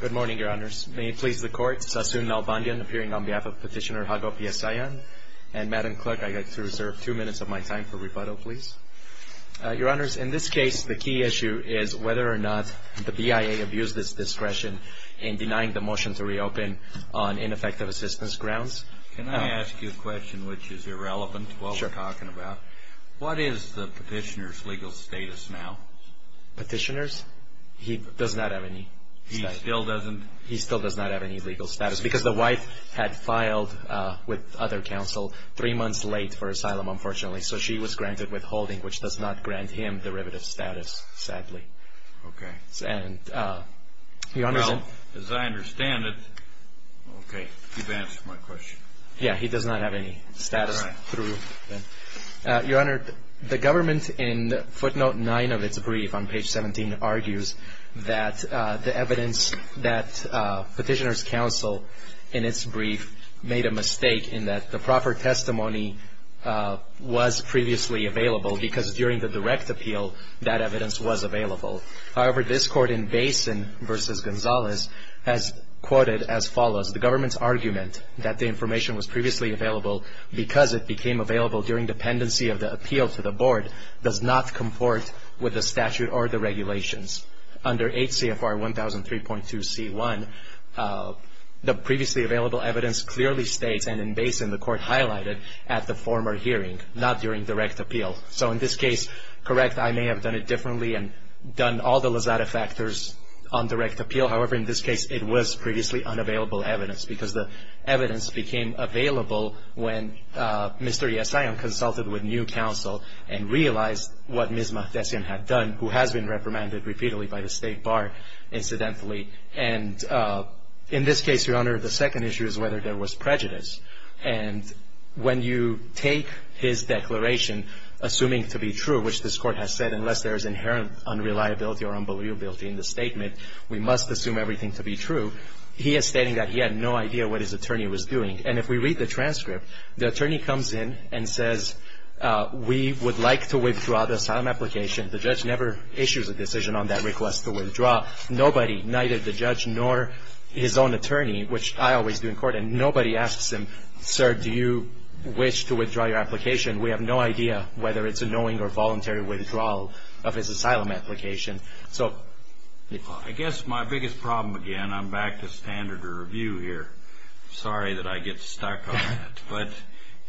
Good morning, Your Honors. May it please the Court, Sassoon Nalbandian appearing on behalf of Petitioner Hago Piasayan, and Madam Clerk, I'd like to reserve two minutes of my time for rebuttal, please. Your Honors, in this case, the key issue is whether or not the BIA abused its discretion in denying the motion to reopen on ineffective assistance grounds. Can I ask you a question which is irrelevant to what we're talking about? Sure. What is the petitioner's legal status now? Petitioners? He does not have any status. He still doesn't? He still does not have any legal status, because the wife had filed with other counsel three months late for asylum, unfortunately, so she was granted withholding, which does not grant him derivative status, sadly. Okay. And, Your Honors... Well, as I understand it, okay, you've answered my question. Yeah, he does not have any status. All right. Your Honor, the government, in footnote 9 of its brief on page 17, argues that the evidence that Petitioner's Counsel, in its brief, made a mistake in that the proper testimony was previously available, because during the direct appeal, that evidence was available. However, this Court in Basin v. Gonzalez has quoted as follows, the government's argument that the information was previously available because it became available during dependency of the appeal to the Board does not comport with the statute or the regulations. Under HCFR 1003.2c1, the previously available evidence clearly states, and in Basin, the Court highlighted at the former hearing, not during direct appeal. So, in this case, correct, I may have done it differently and done all the Lazada factors on direct appeal. However, in this case, it was previously unavailable evidence, because the evidence became available when Mr. Yassayan consulted with new counsel and realized what Ms. Mahdessian had done, who has been reprimanded repeatedly by the State Bar, incidentally. And in this case, Your Honor, the second issue is whether there was prejudice. And when you take his declaration, assuming to be true, which this Court has said, unless there is inherent unreliability or unbelievability in the statement, we must assume everything to be true, he is stating that he had no idea what his attorney was doing. And if we read the transcript, the attorney comes in and says, we would like to withdraw the asylum application. The judge never issues a decision on that request to withdraw. Nobody, neither the judge nor his own attorney, which I always do in court, and nobody asks him, if you wish to withdraw your application, we have no idea whether it's a knowing or voluntary withdrawal of his asylum application. I guess my biggest problem, again, I'm back to standard review here. Sorry that I get stuck on that. But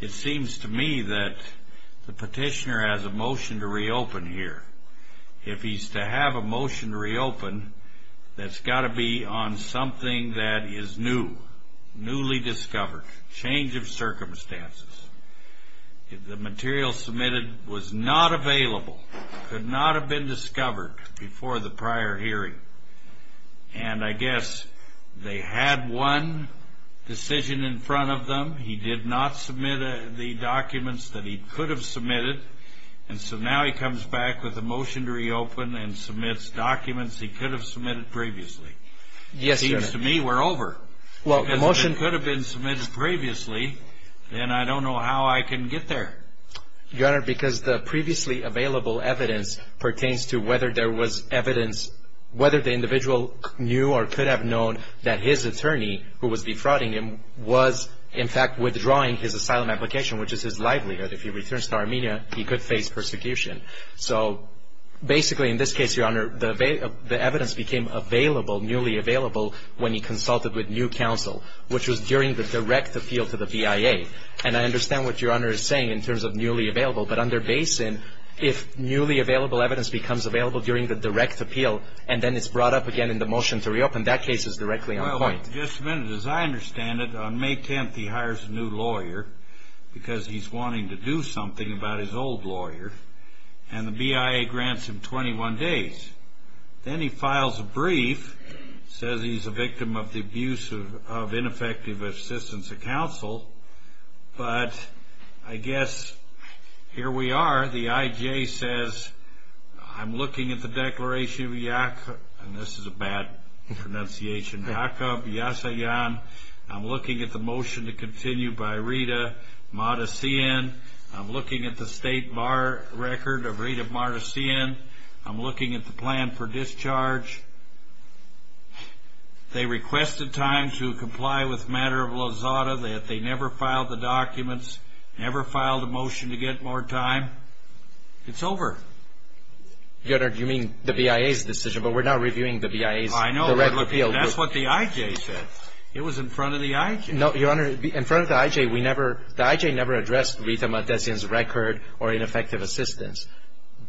it seems to me that the petitioner has a motion to reopen here. If he's to have a motion to reopen, that's got to be on something that is new, newly discovered, change of circumstances. The material submitted was not available, could not have been discovered before the prior hearing. And I guess they had one decision in front of them. He did not submit the documents that he could have submitted. And so now he comes back with a motion to reopen and submits documents he could have submitted previously. Yes, Your Honor. It seems to me we're over. Well, the motion could have been submitted previously, and I don't know how I can get there. Your Honor, because the previously available evidence pertains to whether there was evidence, whether the individual knew or could have known that his attorney, who was defrauding him, was, in fact, withdrawing his asylum application, which is his livelihood. If he returns to Armenia, he could face persecution. So basically, in this case, Your Honor, the evidence became available, newly available, when he consulted with new counsel, which was during the direct appeal to the BIA. And I understand what Your Honor is saying in terms of newly available. But under Basin, if newly available evidence becomes available during the direct appeal and then it's brought up again in the motion to reopen, that case is directly on the point. Well, just a minute. As I understand it, on May 10th he hires a new lawyer because he's wanting to do something about his old lawyer. And the BIA grants him 21 days. Then he files a brief, says he's a victim of the abuse of ineffective assistance of counsel. But I guess here we are. The IJ says, I'm looking at the declaration of Yakov. And this is a bad pronunciation. Yakov Yasayan. I'm looking at the motion to continue by Rita Madasian. I'm looking at the state bar record of Rita Madasian. I'm looking at the plan for discharge. They requested time to comply with matter of Lozada. They never filed the documents, never filed a motion to get more time. It's over. Your Honor, you mean the BIA's decision. But we're not reviewing the BIA's direct appeal. I know, but that's what the IJ said. It was in front of the IJ. Your Honor, in front of the IJ, the IJ never addressed Rita Madasian's record or ineffective assistance.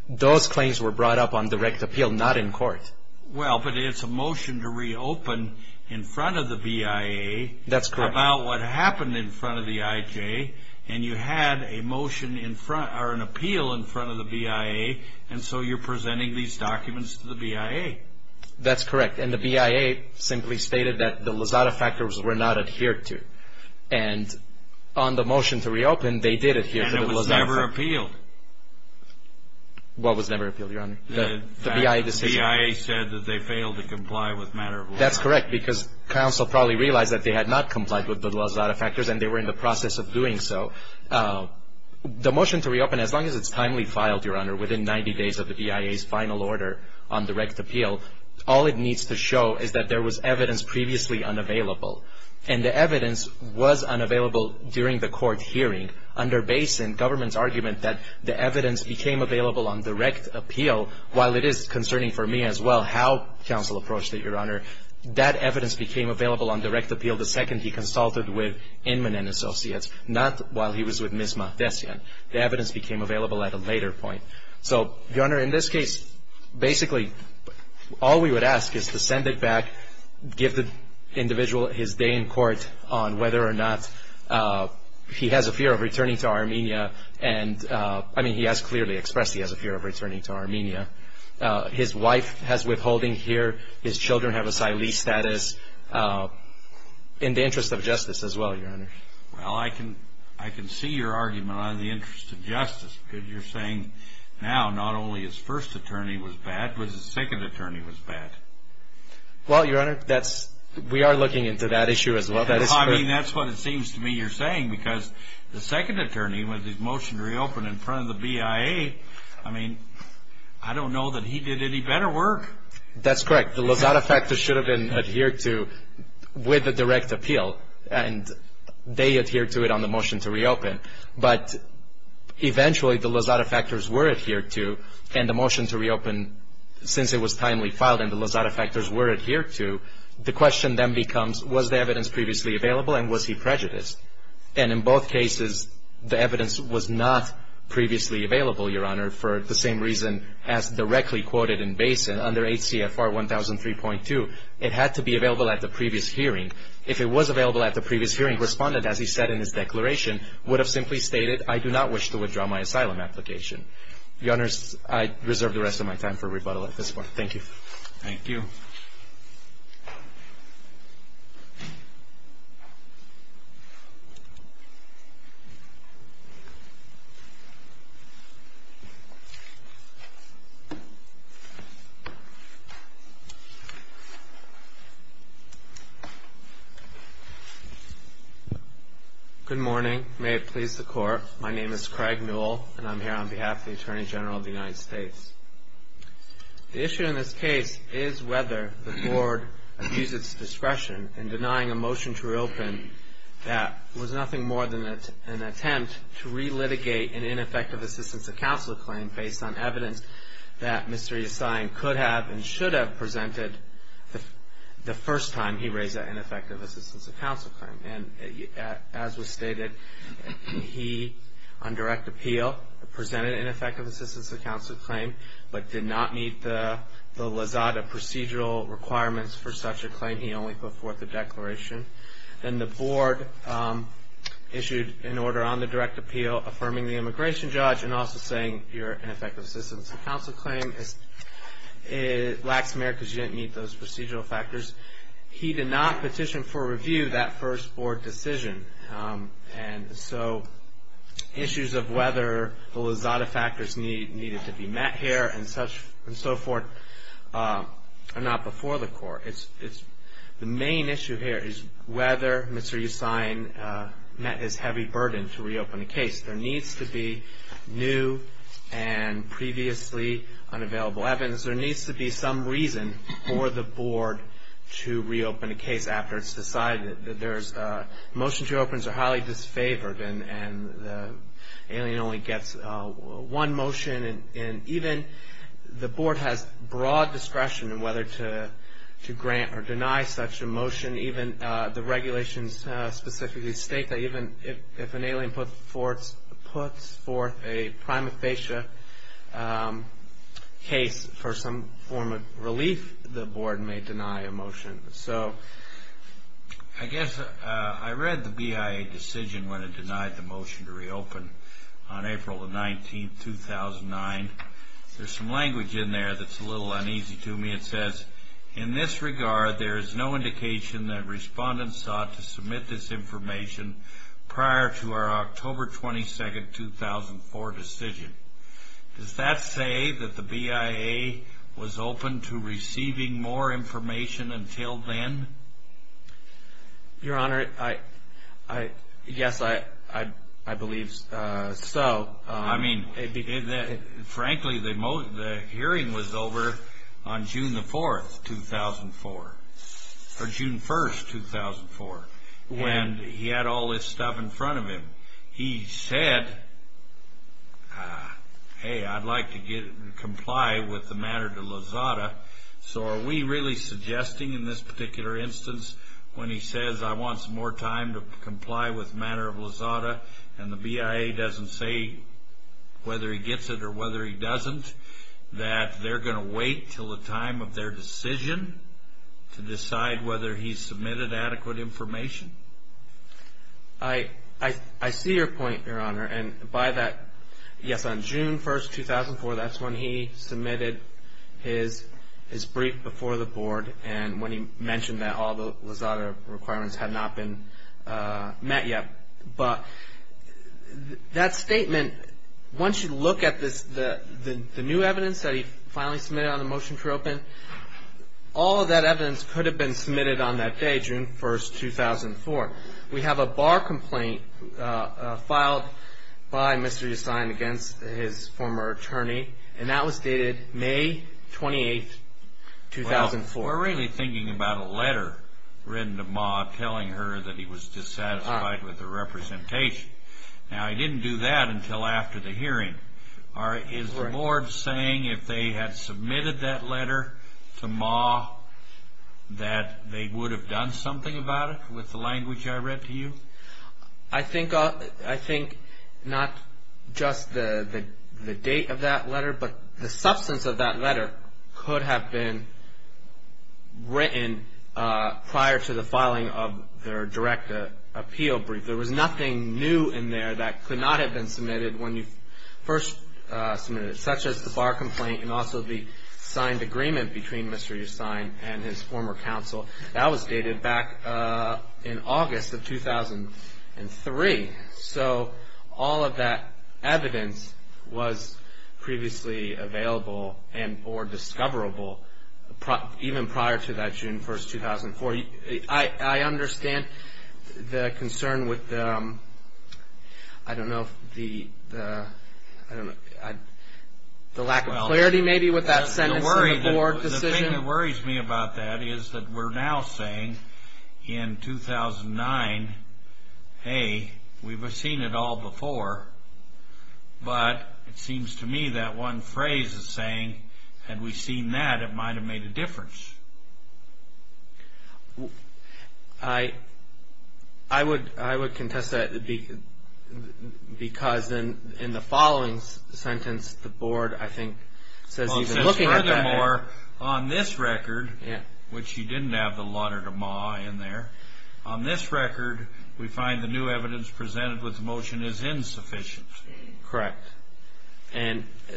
Those claims were brought up on direct appeal, not in court. Well, but it's a motion to reopen in front of the BIA. That's correct. About what happened in front of the IJ. And you had a motion in front or an appeal in front of the BIA. And so you're presenting these documents to the BIA. That's correct. And the BIA simply stated that the Lozada factors were not adhered to. And on the motion to reopen, they did adhere to the Lozada factors. And it was never appealed. What was never appealed, Your Honor? The BIA decision. The BIA said that they failed to comply with matter of Lozada. That's correct because counsel probably realized that they had not complied with the Lozada factors and they were in the process of doing so. The motion to reopen, as long as it's timely filed, Your Honor, within 90 days of the BIA's final order on direct appeal, all it needs to show is that there was evidence previously unavailable. And the evidence was unavailable during the court hearing under Basin, government's argument that the evidence became available on direct appeal, while it is concerning for me as well how counsel approached it, Your Honor. That evidence became available on direct appeal the second he consulted with Inman and Associates, not while he was with Ms. Mahdessian. The evidence became available at a later point. So, Your Honor, in this case, basically all we would ask is to send it back, give the individual his day in court on whether or not he has a fear of returning to Armenia. And, I mean, he has clearly expressed he has a fear of returning to Armenia. His wife has withholding here. His children have asylee status in the interest of justice as well, Your Honor. Well, I can see your argument on the interest of justice because you're saying now not only his first attorney was bad, but his second attorney was bad. Well, Your Honor, we are looking into that issue as well. I mean, that's what it seems to me you're saying because the second attorney, with his motion to reopen in front of the BIA, I mean, I don't know that he did any better work. That's correct. The Lozada factor should have been adhered to with the direct appeal, and they adhered to it on the motion to reopen. But eventually, the Lozada factors were adhered to, and the motion to reopen, since it was timely filed and the Lozada factors were adhered to, the question then becomes was the evidence previously available and was he prejudiced? And in both cases, the evidence was not previously available, Your Honor, for the same reason as directly quoted in Basin under 8 CFR 1003.2. It had to be available at the previous hearing. If it was available at the previous hearing, the respondent, as he said in his declaration, would have simply stated, I do not wish to withdraw my asylum application. Your Honor, I reserve the rest of my time for rebuttal at this point. Thank you. Thank you. Good morning. May it please the Court. My name is Craig Newell, and I'm here on behalf of the Attorney General of the United States. The issue in this case is whether the Board abused its discretion in denying a motion to reopen that was nothing more than an attempt to relitigate an ineffective assistance to counsel claim based on evidence that Mr. Yassine could have and should have presented the first time he raised that ineffective assistance claim. And as was stated, he, on direct appeal, presented an ineffective assistance to counsel claim but did not meet the LAZADA procedural requirements for such a claim. He only put forth a declaration. Then the Board issued an order on the direct appeal affirming the immigration judge and also saying your ineffective assistance to counsel claim lacks merit because you didn't meet those procedural factors. He did not petition for review that first Board decision. And so issues of whether the LAZADA factors needed to be met here and so forth are not before the Court. The main issue here is whether Mr. Yassine met his heavy burden to reopen the case. There needs to be new and previously unavailable evidence. There needs to be some reason for the Board to reopen a case after it's decided. Motion to reopen is highly disfavored and the alien only gets one motion. Even the Board has broad discretion in whether to grant or deny such a motion. Even the regulations specifically state that even if an alien puts forth a prima facie case for some form of relief, the Board may deny a motion. So I guess I read the BIA decision when it denied the motion to reopen on April 19, 2009. There's some language in there that's a little uneasy to me. It says, in this regard, there is no indication that respondents sought to submit this information prior to our October 22, 2004 decision. Does that say that the BIA was open to receiving more information until then? Your Honor, yes, I believe so. Frankly, the hearing was over on June 1, 2004. And he had all this stuff in front of him. He said, hey, I'd like to comply with the matter to Lozada, so are we really suggesting in this particular instance when he says, I want some more time to comply with the matter of Lozada, and the BIA doesn't say whether he gets it or whether he doesn't, that they're going to wait until the time of their decision to decide whether he's submitted adequate information? I see your point, Your Honor. And by that, yes, on June 1, 2004, that's when he submitted his brief before the Board and when he mentioned that all the Lozada requirements had not been met yet. But that statement, once you look at the new evidence that he finally submitted on the motion for open, all of that evidence could have been submitted on that day, June 1, 2004. We have a bar complaint filed by Mr. Yassine against his former attorney, and that was dated May 28, 2004. Well, we're really thinking about a letter written to Ma telling her that he was dissatisfied with the representation. Now, he didn't do that until after the hearing. Is the Board saying if they had submitted that letter to Ma that they would have done something about it with the language I read to you? I think not just the date of that letter, but the substance of that letter could have been written prior to the filing of their direct appeal brief. There was nothing new in there that could not have been submitted when you first submitted it, such as the bar complaint and also the signed agreement between Mr. Yassine and his former counsel. That was dated back in August of 2003. So all of that evidence was previously available and or discoverable even prior to that June 1, 2004. I understand the concern with, I don't know, the lack of clarity maybe with that sentence in the Board decision. The thing that worries me about that is that we're now saying in 2009, hey, we've seen it all before, but it seems to me that one phrase is saying, had we seen that, it might have made a difference. I would contest that because in the following sentence, it says furthermore, on this record, which you didn't have the letter to Ma in there, on this record we find the new evidence presented with the motion is insufficient. Correct.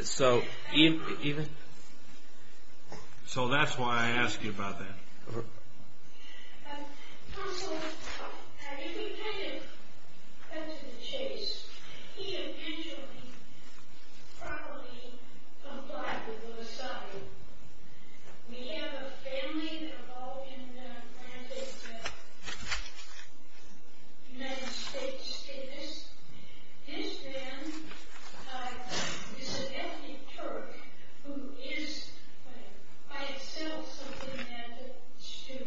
So that's why I ask you about that. Counsel, if you take it back to Chase, he eventually probably complied with the society. We have a family that evolved in the United States. This man is an ethnic Turk who is by itself something that is to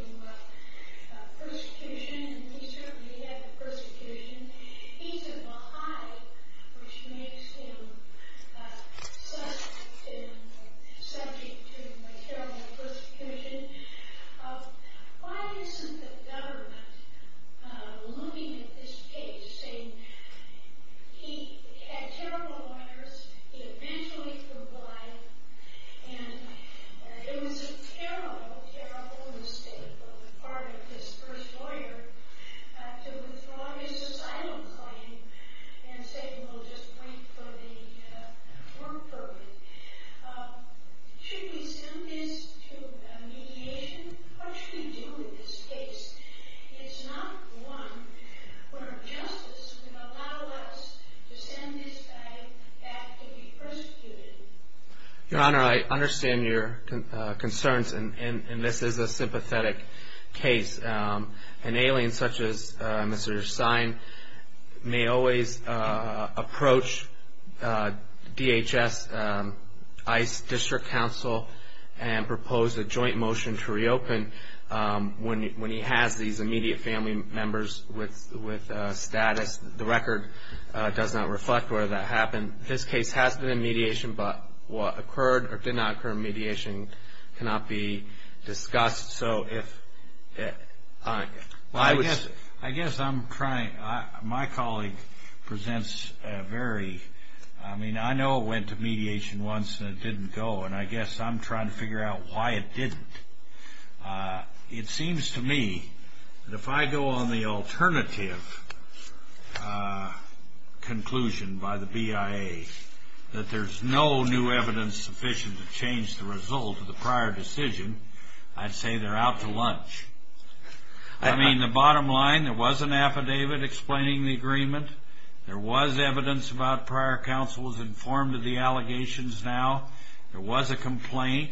persecution. He certainly had the persecution. He's a Baha'i, which makes him subject to material persecution. Why isn't the government looming at this case, saying he had terrible lawyers, he eventually complied, and it was a terrible, terrible mistake on the part of his first lawyer to withdraw his societal claim and say we'll just wait for the court verdict. Should we send this to mediation? What should we do with this case? It's not one where justice would allow us to send this guy back to be persecuted. Your Honor, I understand your concerns, and this is a sympathetic case. An alien such as Mr. Sine may always approach DHS ICE District Council and propose a joint motion to reopen when he has these immediate family members with status. The record does not reflect whether that happened. This case has been in mediation, but what occurred or did not occur in mediation cannot be discussed. I guess I'm trying. My colleague presents a very, I mean, I know it went to mediation once and it didn't go, and I guess I'm trying to figure out why it didn't. It seems to me that if I go on the alternative conclusion by the BIA that there's no new evidence sufficient to change the result of the prior decision, I'd say they're out to lunch. I mean, the bottom line, there was an affidavit explaining the agreement. There was evidence about prior counsels informed of the allegations now. There was a complaint,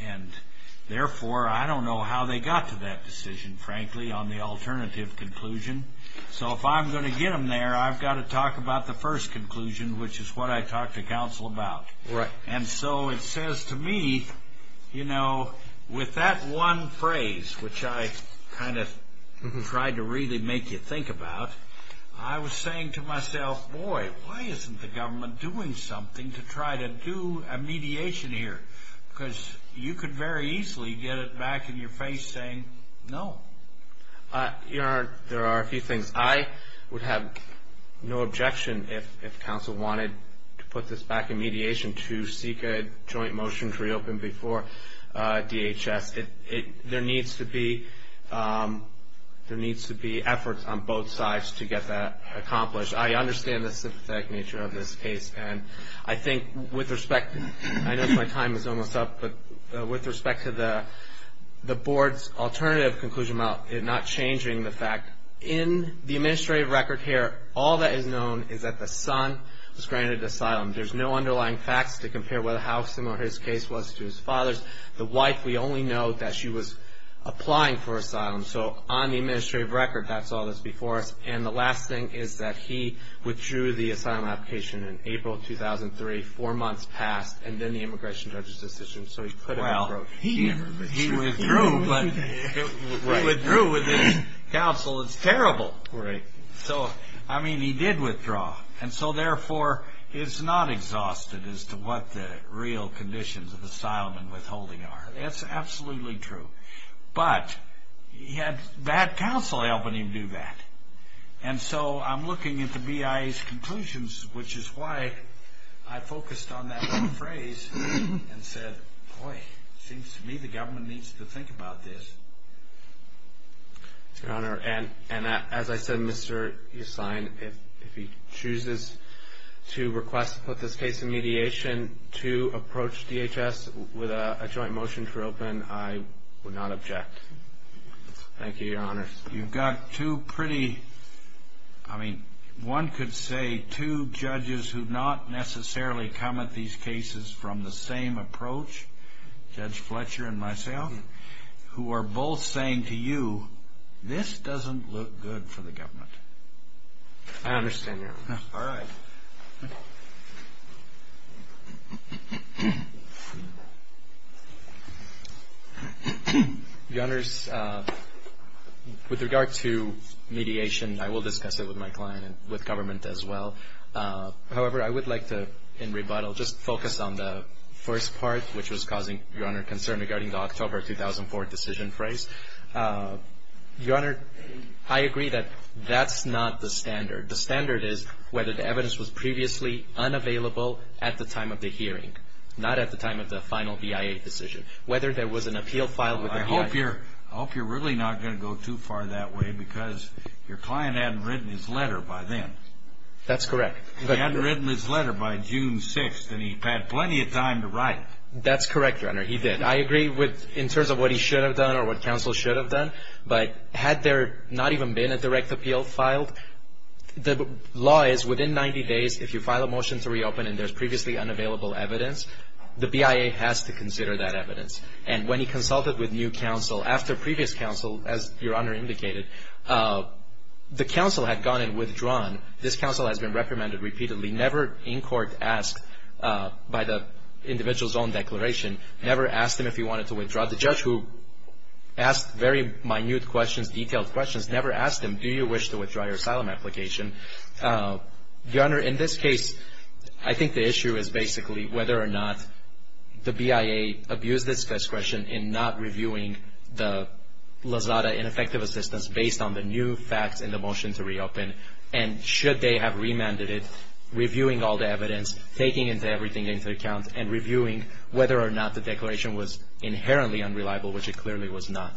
and therefore, I don't know how they got to that decision, frankly, on the alternative conclusion. So if I'm going to get them there, I've got to talk about the first conclusion, which is what I talked to counsel about. Right. And so it says to me, you know, with that one phrase, which I kind of tried to really make you think about, I was saying to myself, boy, why isn't the government doing something to try to do a mediation here? Because you could very easily get it back in your face saying no. Your Honor, there are a few things. I would have no objection if counsel wanted to put this back in mediation to seek a joint motion to reopen before DHS. There needs to be efforts on both sides to get that accomplished. I understand the sympathetic nature of this case. And I think with respect to the board's alternative conclusion, not changing the fact, in the administrative record here, all that is known is that the son was granted asylum. There's no underlying facts to compare how similar his case was to his father's. The wife, we only know that she was applying for asylum. So on the administrative record, that's all that's before us. And the last thing is that he withdrew the asylum application in April 2003. Four months passed. And then the immigration judge's decision, so he couldn't have approached. Well, he withdrew, but he withdrew with his counsel. It's terrible. Right. So, I mean, he did withdraw. And so, therefore, he's not exhausted as to what the real conditions of asylum and withholding are. That's absolutely true. But he had bad counsel helping him do that. And so I'm looking at the BIA's conclusions, which is why I focused on that phrase and said, boy, it seems to me the government needs to think about this. Your Honor, and as I said, Mr. Yassine, if he chooses to request to put this case in mediation, to approach DHS with a joint motion to reopen, I would not object. Thank you, Your Honor. You've got two pretty, I mean, one could say two judges who've not necessarily come at these cases from the same approach, Judge Fletcher and myself, who are both saying to you, this doesn't look good for the government. I understand, Your Honor. All right. Your Honor, with regard to mediation, I will discuss it with my client and with government as well. However, I would like to, in rebuttal, just focus on the first part, which was causing, Your Honor, concern regarding the October 2004 decision phrase. Your Honor, I agree that that's not the standard. The standard is whether the evidence was previously unavailable at the time of the hearing, not at the time of the final BIA decision, whether there was an appeal filed with the BIA. I hope you're really not going to go too far that way because your client hadn't written his letter by then. That's correct. He hadn't written his letter by June 6th, and he had plenty of time to write it. That's correct, Your Honor. He did. I agree in terms of what he should have done or what counsel should have done. But had there not even been a direct appeal filed, the law is within 90 days, if you file a motion to reopen and there's previously unavailable evidence, the BIA has to consider that evidence. And when he consulted with new counsel after previous counsel, as Your Honor indicated, the counsel had gone and withdrawn. This counsel has been reprimanded repeatedly, never in court asked by the individual's own declaration, never asked him if he wanted to withdraw. The judge who asked very minute questions, detailed questions, never asked him, do you wish to withdraw your asylum application? Your Honor, in this case, I think the issue is basically whether or not the BIA abused its discretion in not reviewing the Lozada ineffective assistance based on the new facts in the motion to reopen, and should they have remanded it, reviewing all the evidence, taking everything into account, and reviewing whether or not the declaration was inherently unreliable, which it clearly was not.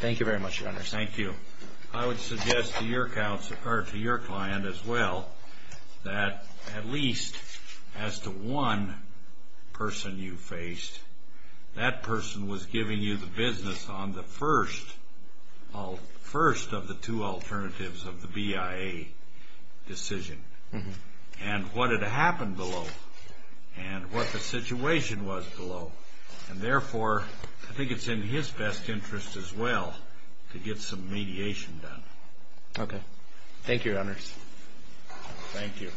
Thank you very much, Your Honor. Thank you. I would suggest to your client as well that at least as to one person you faced, that person was giving you the business on the first of the two alternatives of the BIA decision. And what had happened below, and what the situation was below, and therefore I think it's in his best interest as well to get some mediation done. Okay. Thank you, Your Honors. Thank you.